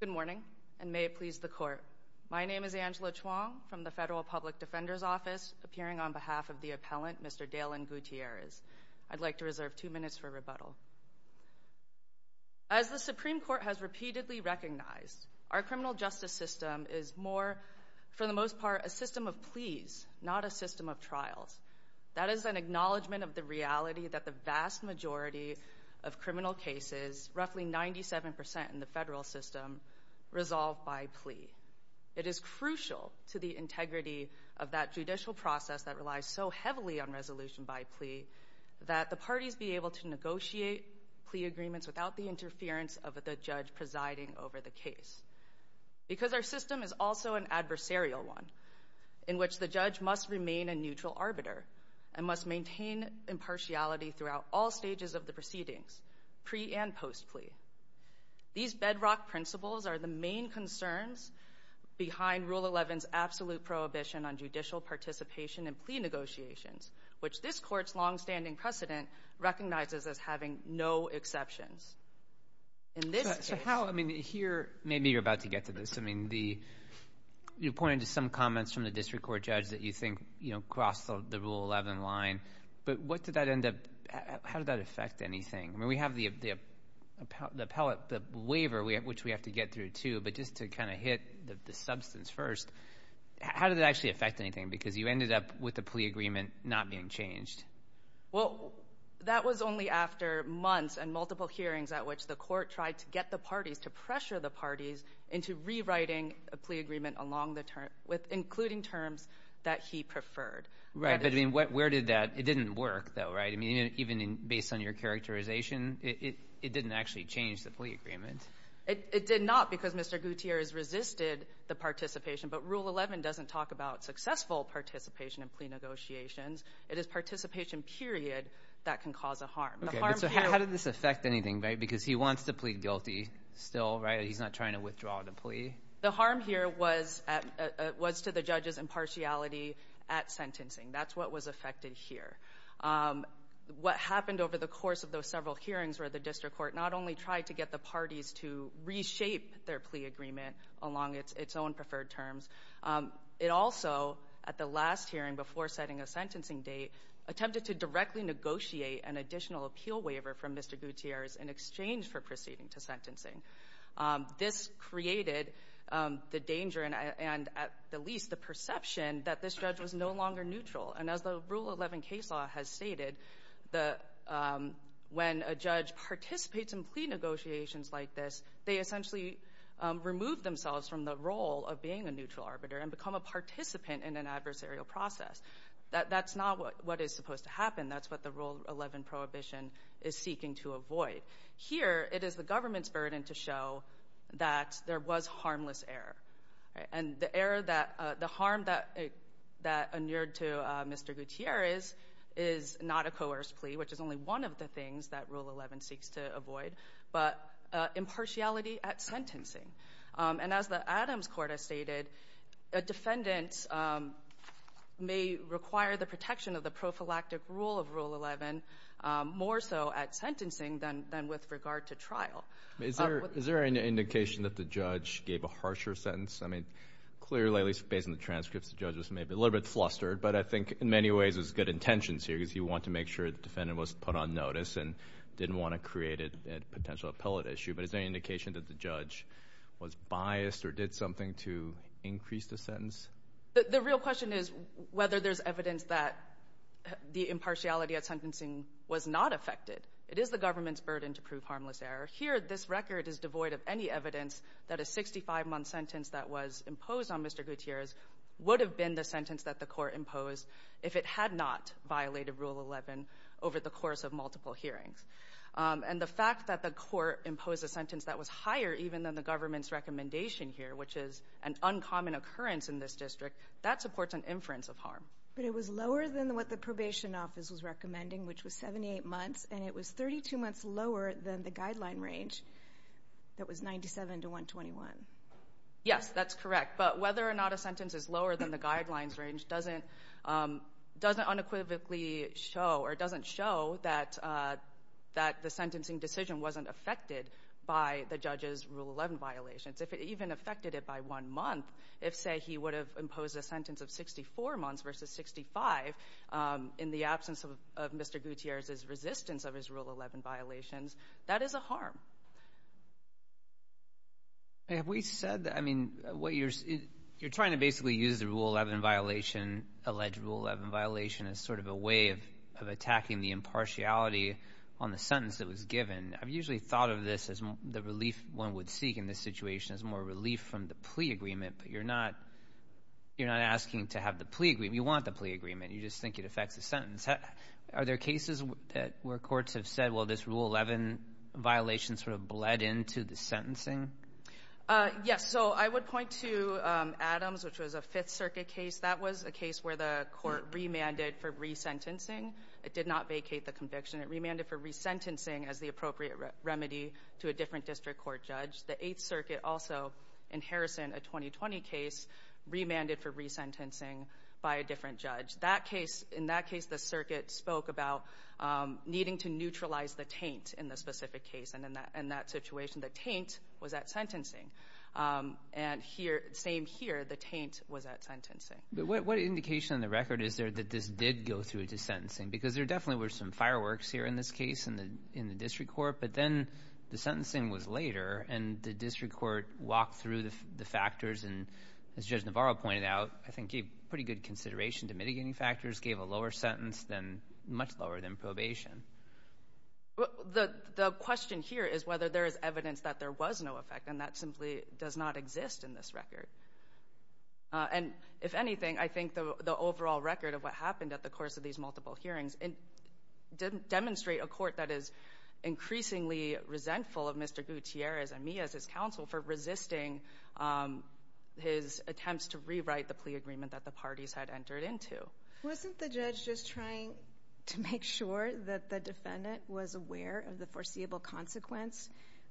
Good morning, and may it please the Court. My name is Angela Chuang, from the Federal Public Defender's Office, appearing on behalf of the appellant, Mr. Dalen Gutierrez. I'd like to reserve two minutes for rebuttal. As the Supreme Court has repeatedly recognized, our criminal justice system is more, for the most part, a system of pleas, not a system of trials. That is an acknowledgment of the reality that the vast majority of criminal cases, roughly 97% in the federal system, resolve by plea. It is crucial to the integrity of that judicial process that relies so heavily on resolution by plea that the parties be able to negotiate plea agreements without the interference of the judge presiding over the case. Because our system is also an adversarial one, in which the judge must remain a neutral arbiter and must maintain impartiality throughout all stages of the proceedings, pre- and post-plea. These bedrock principles are the main concerns behind Rule 11's absolute prohibition on judicial participation in plea negotiations, which this Court's longstanding precedent recognizes as having no exceptions. In this case... So how, I mean, here, maybe you're about to get to this, I mean, the, you pointed to some comments from the district court judge that you think, you know, crossed the Rule 11 line, but what did that end up, how did that affect anything? I mean, we have the appellate, the waiver, which we have to get through, too, but just to kind of hit the substance first, how did that actually affect anything? Because you ended up with the plea agreement not being changed. Well, that was only after months and multiple hearings at which the Court tried to get the parties, to pressure the parties into rewriting a plea agreement along the term, with including terms that he preferred. Right. But, I mean, where did that, it didn't work, though, right? I mean, even based on your characterization, it didn't actually change the plea agreement. It did not, because Mr. Gutierrez resisted the participation. But Rule 11 doesn't talk about successful participation in plea negotiations. It is participation period that can cause a harm. Okay, so how did this affect anything, right? Because he wants to plead guilty still, right? He's not trying to withdraw the plea. The harm here was to the judge's impartiality at sentencing. That's what was affected here. What happened over the course of those several hearings where the district court not only tried to get the parties to reshape their plea agreement along its own preferred terms, it also, at the last hearing before setting a sentencing date, attempted to directly negotiate an additional appeal waiver from Mr. Gutierrez in exchange for proceeding to sentencing. This created the danger and, at the least, the perception that this judge was no longer neutral. And as the Rule 11 case law has stated, when a judge participates in plea negotiations like this, they essentially remove themselves from the role of being a neutral arbiter and become a participant in an adversarial process. That's not what is supposed to happen. That's what the Rule 11 prohibition is seeking to avoid. Here, it is the government's burden to show that there was harmless error. And the error that—the harm that—that inured to Mr. Gutierrez is not a coerced plea, but impartiality at sentencing. And as the Adams Court has stated, a defendant may require the protection of the prophylactic rule of Rule 11 more so at sentencing than with regard to trial. I mean, is there—is there any indication that the judge gave a harsher sentence? I mean, clearly, at least based on the transcripts, the judge was maybe a little bit flustered. But I think, in many ways, there's good intentions here because you want to make sure the defendant was put on notice and didn't want to create a potential appellate issue. But is there any indication that the judge was biased or did something to increase the sentence? The real question is whether there's evidence that the impartiality at sentencing was not affected. It is the government's burden to prove harmless error. Here, this record is devoid of any evidence that a 65-month sentence that was imposed on Mr. Gutierrez would have been the sentence that the Court imposed if it had not violated Rule 11 over the course of multiple hearings. And the fact that the Court imposed a sentence that was higher even than the government's recommendation here, which is an uncommon occurrence in this district, that supports an inference of harm. But it was lower than what the probation office was recommending, which was 78 months, and it was 32 months lower than the guideline range that was 97 to 121. Yes, that's correct. But whether or not a sentence is lower than the guidelines range doesn't unequivocally show or doesn't show that the sentencing decision wasn't affected by the judge's Rule 11 violations. If it even affected it by one month, if, say, he would have imposed a sentence of 64 months versus 65 in the absence of Mr. Gutierrez's resistance of his Rule 11 violations, that is a harm. Have we said that? I mean, you're trying to basically use the Rule 11 violation, alleged Rule 11 violation, as sort of a way of attacking the impartiality on the sentence that was given. I've usually thought of this as the relief one would seek in this situation, as more relief from the plea agreement. But you're not asking to have the plea agreement. You want the plea agreement. You just think it affects the sentence. Are there cases where courts have said, well, this Rule 11 violation sort of bled into the sentencing? Yes. So I would point to Adams, which was a Fifth Circuit case. That was a case where the court remanded for resentencing. It did not vacate the conviction. It remanded for resentencing as the appropriate remedy to a different district court judge. The Eighth Circuit also, in Harrison, a 2020 case, remanded for resentencing by a different judge. That case, in that case, the circuit spoke about needing to neutralize the taint in the specific case. And in that situation, the taint was at sentencing. And here, same here, the taint was at sentencing. What indication on the record is there that this did go through to sentencing? Because there definitely were some fireworks here in this case in the district court. But then the sentencing was later, and the district court walked through the factors. And as Judge Navarro pointed out, I think he gave pretty good consideration to mitigating factors, gave a lower sentence, much lower than probation. The question here is whether there is evidence that there was no effect. And that simply does not exist in this record. And if anything, I think the overall record of what happened at the course of these multiple hearings didn't demonstrate a court that is increasingly resentful of Mr. Gutierrez and me as his counsel for resisting his attempts to rewrite the plea agreement that the parties had entered into. Wasn't the judge just trying to make sure that the defendant was aware of the foreseeable consequence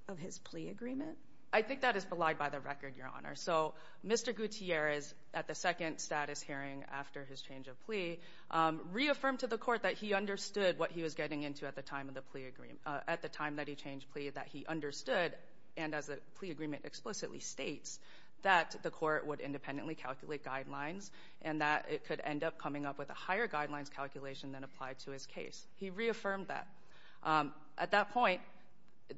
of his plea agreement? I think that is belied by the record, Your Honor. So Mr. Gutierrez, at the second status hearing after his change of plea, reaffirmed to the court that he understood what he was getting into at the time of the plea agreement, at the time that he changed plea, that he understood, and as the plea agreement explicitly states, that the court would independently calculate guidelines and that it could end up coming up with a higher guidelines calculation than applied to his case. He reaffirmed that. At that point,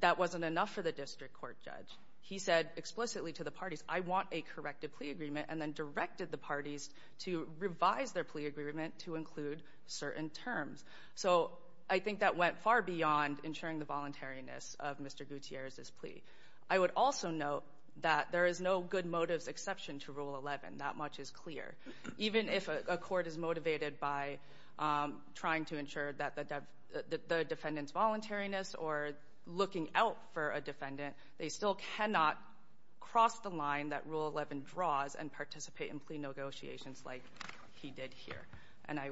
that wasn't enough for the district court judge. He said explicitly to the parties, I want a corrected plea agreement, and then directed the parties to revise their plea agreement to include certain terms. So I think that went far beyond ensuring the voluntariness of Mr. Gutierrez's plea. I would also note that there is no good motives exception to Rule 11. That much is clear. Even if a court is motivated by trying to ensure that the defendant's voluntariness or looking out for a defendant, they still cannot cross the line that Rule 11 draws and participate in plea negotiations like he did here. And I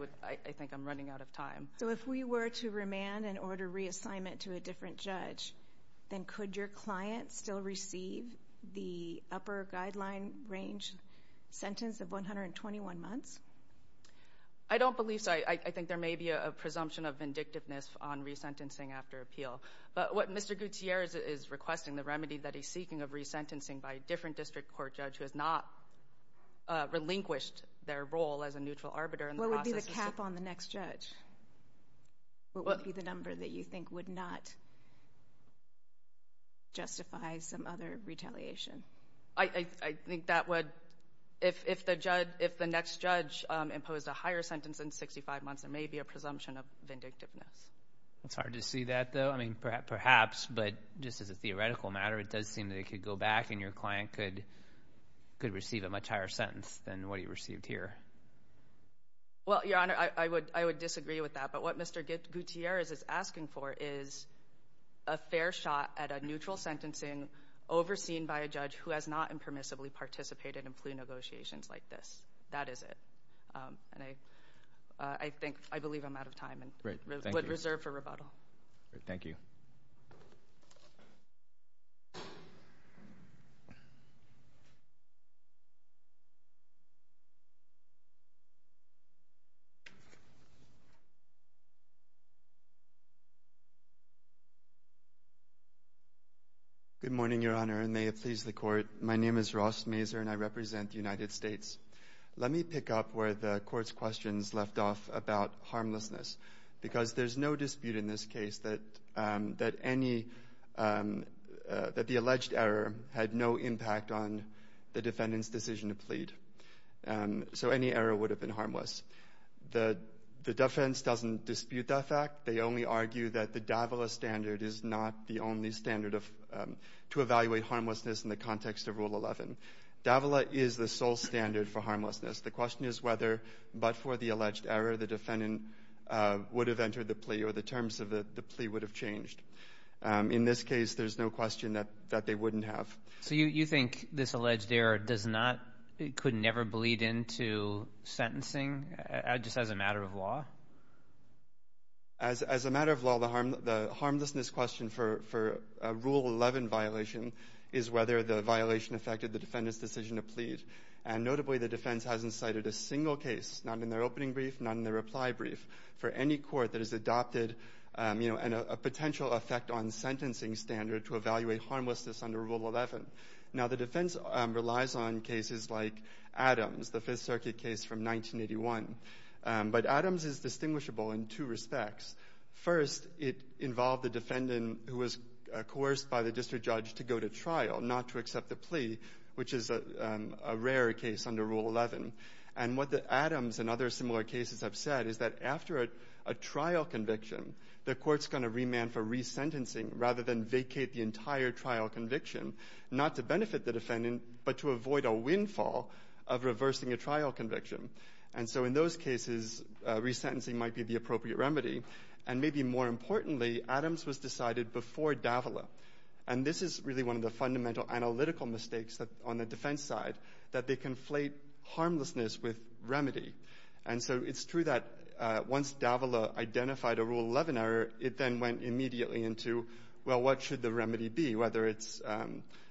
think I'm running out of time. So if we were to remand and order reassignment to a different judge, then could your client still receive the upper guideline range sentence of 121 months? I don't believe so. I think there may be a presumption of vindictiveness on resentencing after appeal. But what Mr. Gutierrez is requesting, the remedy that he's seeking of resentencing by a different district court judge who has not relinquished their role as a neutral arbiter in the process— What would be the cap on the next judge? What would be the number that you think would not justify some other retaliation? I think that would—if the next judge imposed a higher sentence in 65 months, there may be a presumption of vindictiveness. It's hard to see that, though. I mean, perhaps, but just as a theoretical matter, it does seem that it could go back and your client could receive a much higher sentence than what he received here. Well, Your Honor, I would disagree with that. But what Mr. Gutierrez is asking for is a fair shot at a neutral sentencing overseen by a judge who has not impermissibly participated in plea negotiations like this. That is it. And I think—I believe I'm out of time and would reserve for rebuttal. Thank you. Thank you. Good morning, Your Honor, and may it please the Court. My name is Ross Mazur, and I represent the United States. Let me pick up where the Court's questions left off about harmlessness, because there's no dispute in this case that any—that the alleged error had no impact on the defendant's decision to plead. So any error would have been harmless. The defense doesn't dispute that fact. They only argue that the Davila standard is not the only standard of—to evaluate harmlessness in the context of Rule 11. Davila is the sole standard for harmlessness. The question is whether, but for the alleged error, the defendant would have entered the plea or the terms of the plea would have changed. In this case, there's no question that they wouldn't have. So you think this alleged error does not—could never bleed into sentencing just as a matter of law? As a matter of law, the harmlessness question for Rule 11 violation is whether the violation affected the defendant's decision to plead. And notably, the defense hasn't cited a single case, not in their opening brief, not in their reply brief, for any court that has adopted, you know, a potential effect on sentencing standard to evaluate harmlessness under Rule 11. Now, the defense relies on cases like Adams, the Fifth Circuit case from 1981. But Adams is distinguishable in two respects. First, it involved the defendant who was coerced by the district judge to go to trial, not to accept the plea, which is a rare case under Rule 11. And what the Adams and other similar cases have said is that after a trial conviction, the court's going to remand for resentencing rather than vacate the entire trial conviction, not to benefit the defendant, but to avoid a windfall of reversing a trial conviction. And so in those cases, resentencing might be the appropriate remedy. And maybe more importantly, Adams was decided before Davila. And this is really one of the fundamental analytical mistakes on the defense side, that they conflate harmlessness with remedy. And so it's true that once Davila identified a Rule 11 error, it then went immediately into, well, what should the remedy be, whether it's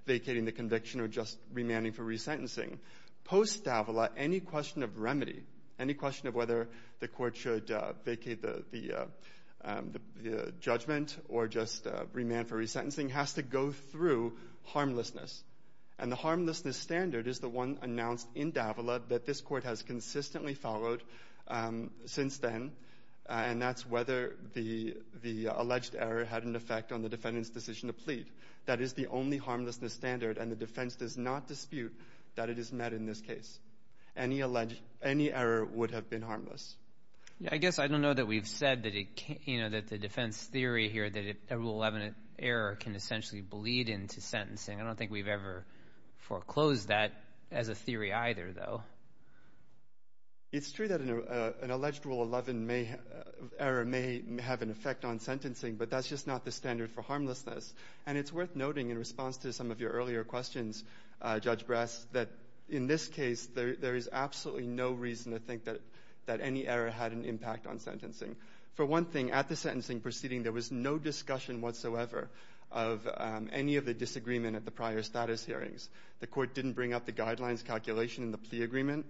vacating the conviction or just remanding for resentencing. Post-Davila, any question of remedy, any question of whether the court should vacate the judgment or just remand for resentencing has to go through harmlessness. And the harmlessness standard is the one announced in Davila that this court has consistently followed since then. And that's whether the alleged error had an effect on the defendant's decision to plead. That is the only harmlessness standard. And the defense does not dispute that it is met in this case. Any error would have been harmless. I guess I don't know that we've said that the defense theory here, that a Rule 11 error can essentially bleed into sentencing. I don't think we've ever foreclosed that as a theory either, though. It's true that an alleged Rule 11 error may have an effect on sentencing, but that's just not the standard for harmlessness. And it's worth noting in response to some of your earlier questions, Judge Brass, that in this case, there is absolutely no reason to think that any error had an impact on sentencing. For one thing, at the sentencing proceeding, there was no discussion whatsoever of any of the disagreement at the prior status hearings. The court didn't bring up the guidelines calculation in the plea agreement.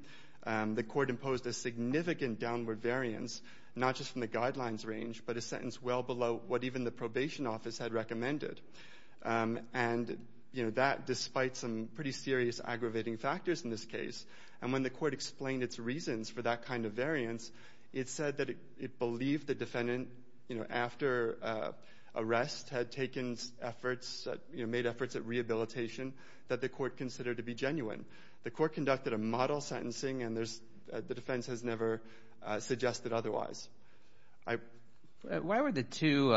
The court imposed a significant downward variance, not just from the guidelines range, but a sentence well below what even the probation office had recommended. And, you know, that despite some pretty serious aggravating factors in this case. And when the court explained its reasons for that kind of variance, it said that it believed the defendant, you know, after arrest had taken efforts, you know, made efforts at rehabilitation, that the court considered to be genuine. The court conducted a model sentencing, and the defense has never suggested otherwise. I... Why were the two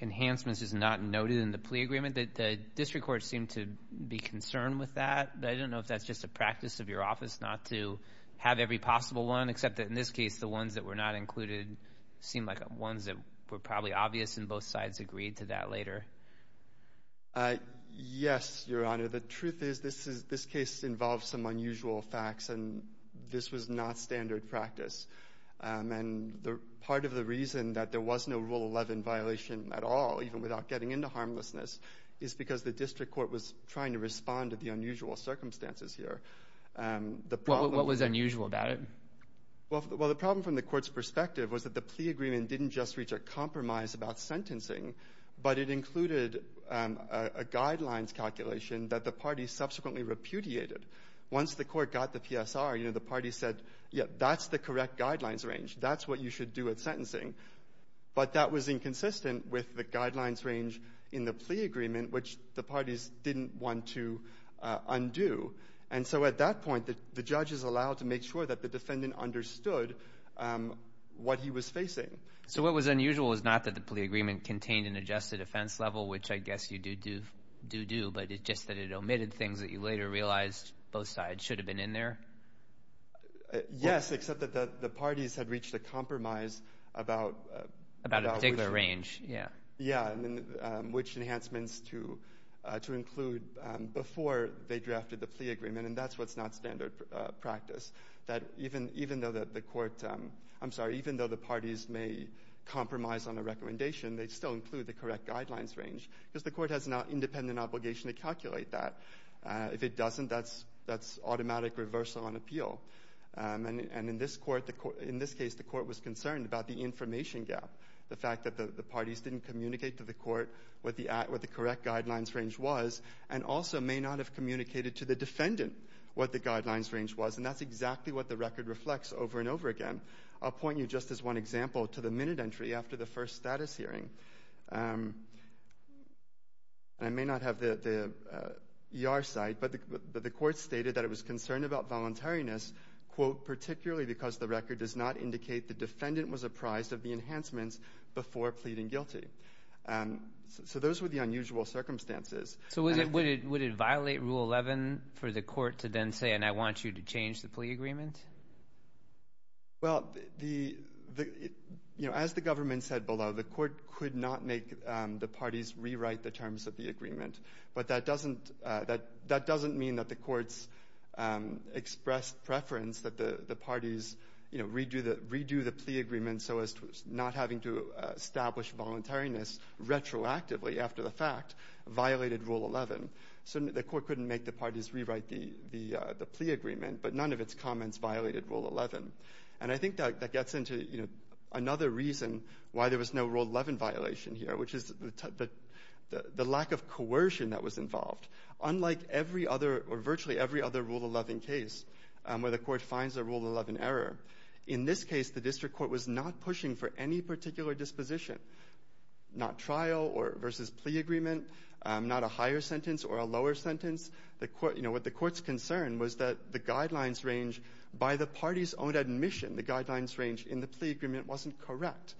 enhancements just not noted in the plea agreement? Did the district court seem to be concerned with that? I don't know if that's just a practice of your office not to have every possible one, except that in this case, the ones that were not included seemed like ones that were probably obvious, and both sides agreed to that later. Yes, Your Honor. The truth is this case involves some unusual facts, and this was not standard practice. And part of the reason that there was no Rule 11 violation at all, even without getting into harmlessness, is because the district court was trying to respond to the unusual circumstances here. What was unusual about it? Well, the problem from the court's perspective was that the plea agreement didn't just reach a compromise about sentencing, but it included a guidelines calculation that the party subsequently repudiated. Once the court got the PSR, you know, the party said, yeah, that's the correct guidelines range. That's what you should do at sentencing. But that was inconsistent with the guidelines range in the plea agreement, which the parties didn't want to undo. And so at that point, the judges allowed to make sure that the defendant understood what he was facing. So what was unusual is not that the plea agreement contained an adjusted offense level, which I guess you do do, but it's just that it omitted things that you later realized both sides should have been in there? Yes, except that the parties had reached a compromise about... About a particular range, yeah. Yeah, and then which enhancements to include before they drafted the plea agreement. And that's what's not standard practice. That even though the court, I'm sorry, even though the parties may compromise on a recommendation, they still include the correct guidelines range because the court has an independent obligation to calculate that. If it doesn't, that's automatic reversal on appeal. And in this case, the court was concerned about the information gap. The fact that the parties didn't communicate to the court what the correct guidelines range was and also may not have communicated to the defendant what the guidelines range was. And that's exactly what the record reflects over and over again. I'll point you just as one example to the minute entry after the first status hearing. I may not have the ER site, but the court stated that it was concerned about voluntariness, quote, particularly because the record does not indicate the defendant was apprised of the enhancements before pleading guilty. So those were the unusual circumstances. So would it violate Rule 11 for the court to then say, and I want you to change the plea agreement? Well, as the government said below, but that doesn't mean that the courts expressed preference that the parties, you know, redo the plea agreement so as to not having to establish voluntariness retroactively after the fact violated Rule 11. So the court couldn't make the parties rewrite the plea agreement, but none of its comments violated Rule 11. And I think that gets into, you know, another reason why there was no Rule 11 violation here, which is the lack of coercion that was involved. Unlike every other or virtually every other Rule 11 case where the court finds a Rule 11 error, in this case, the district court was not pushing for any particular disposition, not trial or versus plea agreement, not a higher sentence or a lower sentence. The court, you know, what the court's concern was that the guidelines range by the party's own admission, the guidelines range in the plea agreement wasn't correct.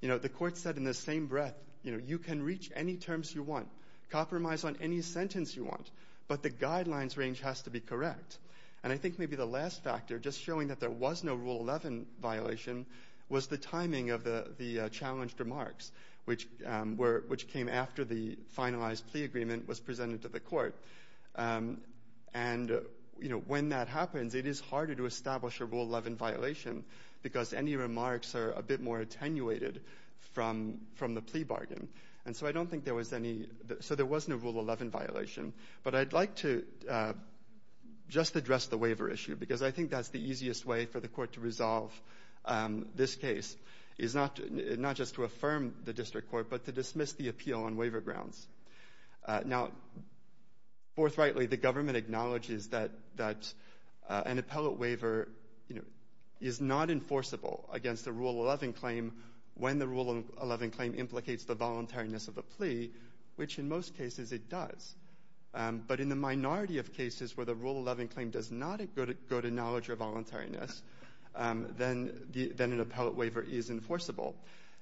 You know, the court said in the same breath, you know, you can reach any terms you want, compromise on any sentence you want, but the guidelines range has to be correct. And I think maybe the last factor, just showing that there was no Rule 11 violation, was the timing of the challenged remarks, which came after the finalized plea agreement was presented to the court. And, you know, when that happens, it is harder to establish a Rule 11 violation because any remarks are a bit more attenuated from the plea bargain. And so I don't think there was any, so there was no Rule 11 violation, but I'd like to just address the waiver issue because I think that's the easiest way for the court to resolve this case is not just to affirm the district court, but to dismiss the appeal on waiver grounds. Now, forthrightly, the government acknowledges that an appellate waiver, you know, is not enforceable against the Rule 11 claim when the Rule 11 claim implicates the voluntariness of the plea, which in most cases it does. But in the minority of cases where the Rule 11 claim does not go to knowledge or voluntariness, then an appellate waiver is enforceable.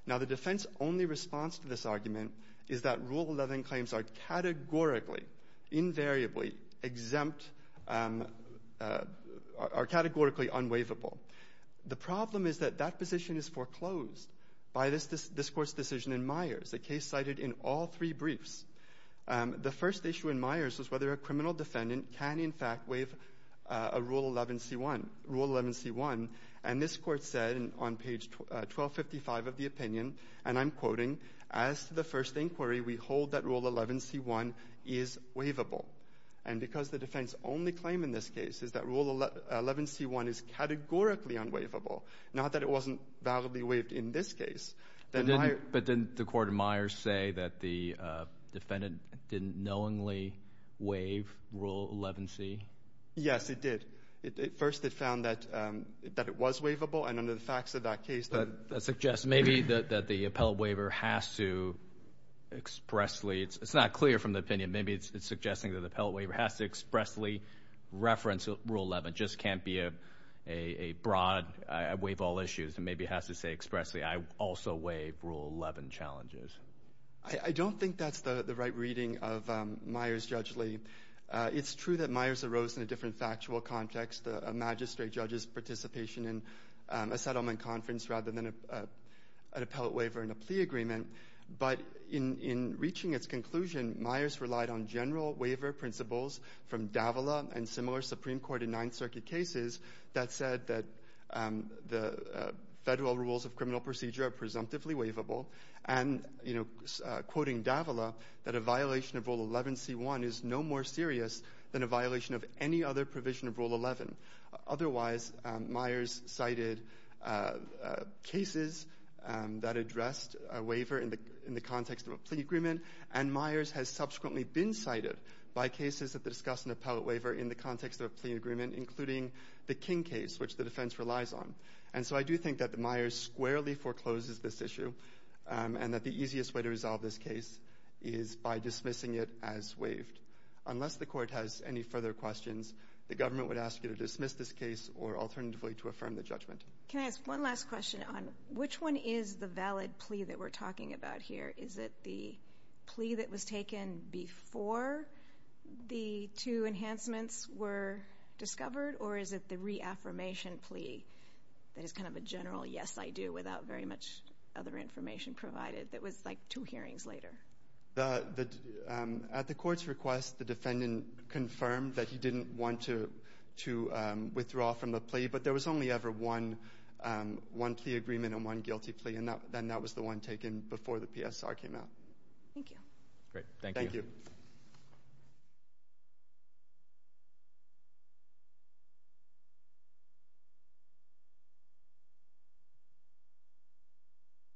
Now, the defense only response to this argument is that Rule 11 claims are categorically, invariably exempt, are categorically unwaivable. The problem is that that position is foreclosed by this court's decision in Myers, a case cited in all three briefs. The first issue in Myers was whether a criminal defendant can in fact waive a Rule 11c1. And this court said on page 1255 of the opinion, and I'm quoting, as to the first inquiry, we hold that Rule 11c1 is waivable. And because the defense only claim in this case is that Rule 11c1 is categorically unwaivable, not that it wasn't validly waived in this case. But didn't the court of Myers say that the defendant didn't knowingly waive Rule 11c? Yes, it did. At first they found that it was waivable. And under the facts of that case, that suggests maybe that the appellate waiver has to expressly, it's not clear from the opinion, maybe it's suggesting that the appellate waiver has to expressly reference Rule 11, just can't be a broad, I waive all issues, and maybe it has to say expressly, I also waive Rule 11 challenges. I don't think that's the right reading of Myers, Judge Lee. It's true that Myers arose in a different factual context, a magistrate judge's participation in a settlement conference rather than an appellate waiver and a plea agreement. But in reaching its conclusion, Myers relied on general waiver principles from Davila and similar Supreme Court and Ninth Circuit cases that said that the federal rules of criminal procedure are presumptively waivable. And, you know, quoting Davila, that a violation of Rule 11c1 is no more serious than a violation of any other provision of Rule 11. Otherwise, Myers cited cases that addressed a waiver in the context of a plea agreement. And Myers has subsequently been cited by cases that discuss an appellate waiver in the context of a plea agreement, including the King case, which the defense relies on. And so I do think that the Myers squarely forecloses this issue and that the easiest way to resolve this case is by dismissing it as waived. Unless the court has any further questions, the government would ask you to dismiss this case or alternatively to affirm the judgment. Can I ask one last question on which one is the valid plea that we're talking about here? Is it the plea that was taken before the two enhancements were discovered? Or is it the reaffirmation plea that is kind of a general, yes, I do, without very much other information provided that was like two hearings later? At the court's request, the defendant confirmed that he didn't want to withdraw from the plea, but there was only ever one plea agreement and one guilty plea, then that was the one taken before the PSR came out. Thank you. Great, thank you. Thank you.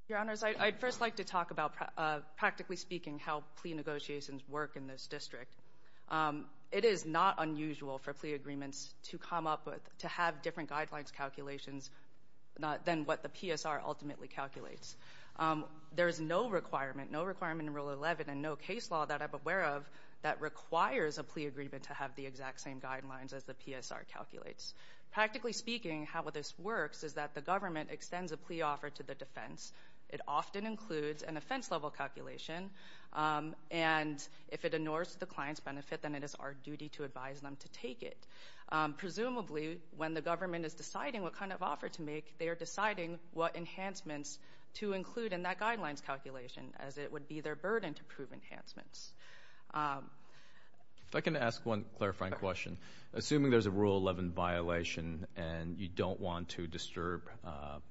Your honors, I'd first like to talk about practically speaking how plea negotiations work in this district. It is not unusual for plea agreements to come up with, to have different guidelines calculations than what the PSR ultimately calculates. There is no requirement, no requirement in Rule 11 and no case law that I'm aware of that requires a plea agreement to have the exact same guidelines as the PSR calculates. Practically speaking, how this works is that the government extends a plea offer to the defense. It often includes an offense-level calculation and if it ignores the client's benefit, then it is our duty to advise them to take it. Presumably, when the government is deciding what kind of offer to make, they are deciding what enhancements to include in that guidelines calculation as it would be their burden to prove enhancements. If I can ask one clarifying question. Assuming there's a Rule 11 violation and you don't want to disturb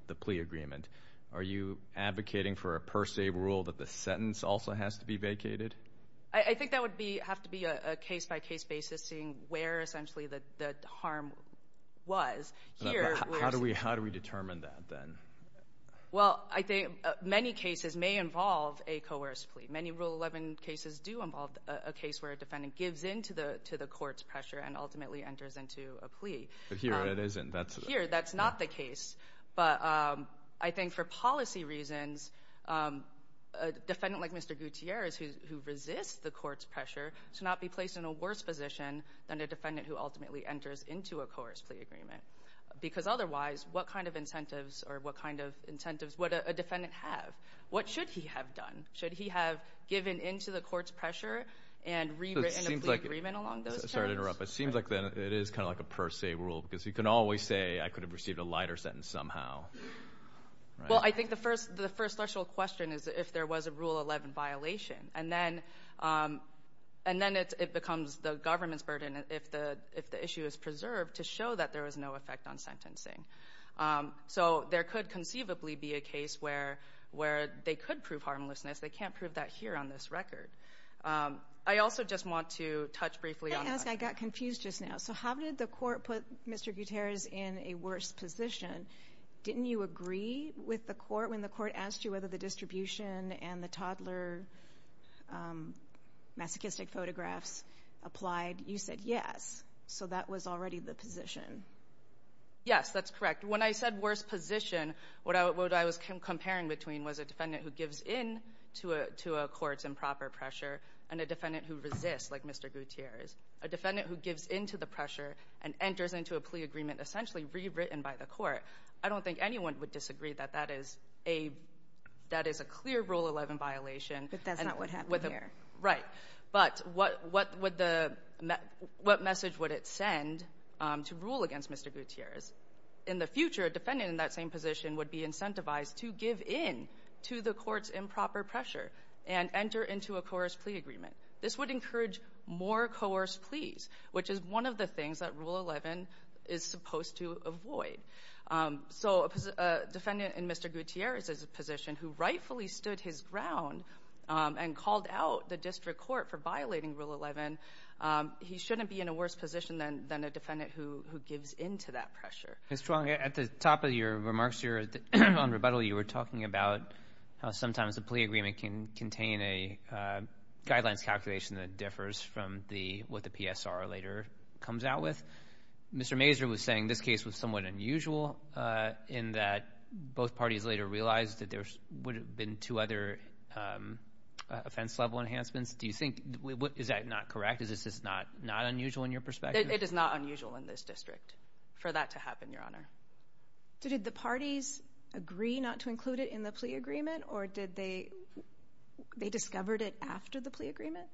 the plea agreement, are you advocating for a per se rule that the sentence also has to be vacated? I think that would have to be a case-by-case basis seeing where essentially the harm was. How do we determine that then? Well, I think many cases may involve a coerced plea. Many Rule 11 cases do involve a case where a defendant gives in to the court's pressure and ultimately enters into a plea. Here, it isn't. Here, that's not the case. But I think for policy reasons, a defendant like Mr. Gutierrez who resists the court's pressure should not be placed in a worse position than a defendant who ultimately enters into a coerced plea agreement. Because otherwise, what kind of incentives or what kind of incentives would a defendant have? What should he have done? Should he have given in to the court's pressure and rewritten a plea agreement along those terms? Sorry to interrupt. It seems like it is kind of like a per se rule because you can always say, I could have received a lighter sentence somehow. Well, I think the first threshold question is if there was a Rule 11 violation. And then it becomes the government's burden if the issue is preserved to show that there was no effect on sentencing. So there could conceivably be a case where they could prove harmlessness. They can't prove that here on this record. I also just want to touch briefly on that. Can I ask? I got confused just now. So how did the court put Mr. Gutierrez in a worse position? Didn't you agree with the court when the court asked you whether the distribution and the toddler masochistic photographs applied? You said yes. So that was already the position. Yes, that's correct. When I said worse position, what I was comparing between was a defendant who gives in to a court's improper pressure and a defendant who resists like Mr. Gutierrez. A defendant who gives into the pressure and enters into a plea agreement essentially rewritten by the court. I don't think anyone would disagree that that is a clear Rule 11 violation. But that's not what happened here. Right. But what message would it send to rule against Mr. Gutierrez? In the future, a defendant in that same position would be incentivized to give in to the court's improper pressure and enter into a coerced plea agreement. This would encourage more coerced pleas, which is one of the things that Rule 11 is supposed to avoid. So a defendant in Mr. Gutierrez's position who rightfully stood his ground and called out the district court for violating Rule 11, he shouldn't be in a worse position than a defendant who gives into that pressure. Ms. Chuang, at the top of your remarks here on rebuttal, you were talking about how sometimes a plea agreement can contain a guidelines calculation that differs from what the PSR later comes out with. Mr. Mazur was saying this case was somewhat unusual in that both parties later realized that there would have been two other offense-level enhancements. Do you think, is that not correct? Is this not unusual in your perspective? It is not unusual in this district for that to happen, Your Honor. Did the parties agree not to include it in the plea agreement, or did they discover it after the plea agreement?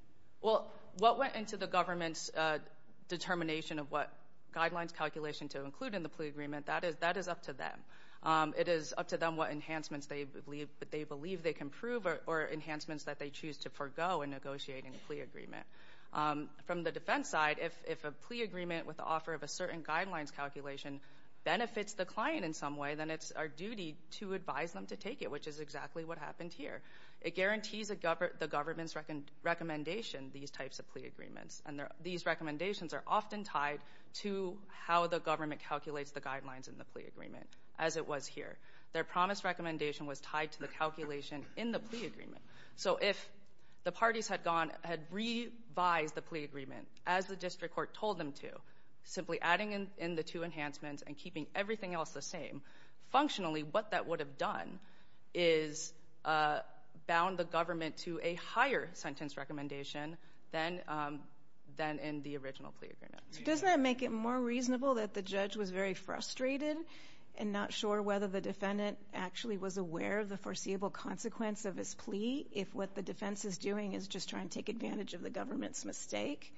Well, what went into the government's determination of what guidelines calculation to include in the plea agreement, that is up to them. It is up to them what enhancements they believe they can prove, or enhancements that they choose to forgo in negotiating a plea agreement. From the defense side, if a plea agreement with the offer of a certain guidelines calculation benefits the client in some way, then it's our duty to advise them to take it, which is exactly what happened here. It guarantees the government's recommendation these types of plea agreements, and these recommendations are often tied to how the government calculates the guidelines in the plea agreement. As it was here, their promise recommendation was tied to the calculation in the plea agreement. So if the parties had gone, had revised the plea agreement as the district court told them to, simply adding in the two enhancements and keeping everything else the same, functionally, what that would have done is bound the government to a higher sentence recommendation than in the original plea agreement. Doesn't that make it more reasonable that the judge was very frustrated and not sure whether the defendant actually was aware of the foreseeable consequence of his plea if what the defense is doing is just trying to take advantage of the government's mistake?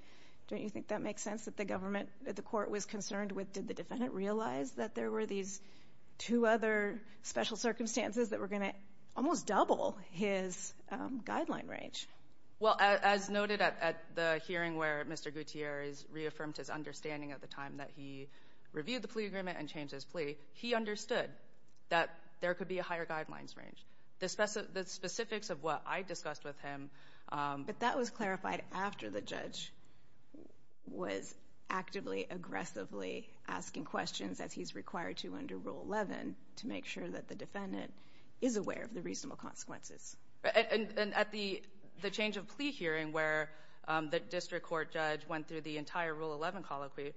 Don't you think that makes sense that the government, the court was concerned with, did the defendant realize that there were these two other special circumstances that were going to almost double his guideline range? Well, as noted at the hearing where Mr. Gutierrez reaffirmed his understanding at the time that he reviewed the plea agreement and changed his plea, he understood that there could be a higher guidelines range. The specifics of what I discussed with him. But that was clarified after the judge was actively aggressively asking questions as he's required to under Rule 11 to make sure that the defendant is aware of the reasonable consequences. And at the change of plea hearing where the district court judge went through the entire Rule 11 colloquy,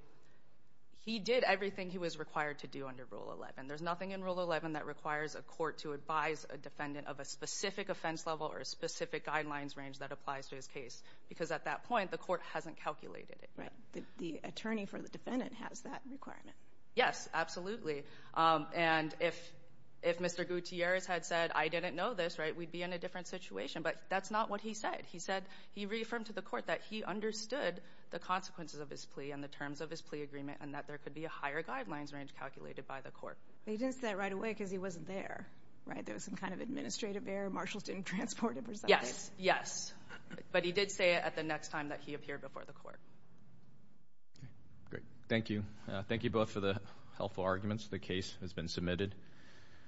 he did everything he was required to do under Rule 11. There's nothing in Rule 11 that requires a court to advise a defendant of a specific offense level or a specific guidelines range that applies to his case. Because at that point, the court hasn't calculated it. Right. The attorney for the defendant has that requirement. Yes, absolutely. And if Mr. Gutierrez had said, I didn't know this, right, we'd be in a different situation. But that's not what he said. He said he reaffirmed to the court that he understood the consequences of his plea and the terms of his plea agreement and that there could be a higher guidelines range calculated by the court. He didn't say that right away because he wasn't there, right? There was some kind of administrative error. Marshalls didn't transport him. Yes, yes. But he did say it at the next time that he appeared before the court. Great. Thank you. Thank you both for the helpful arguments. The case has been submitted.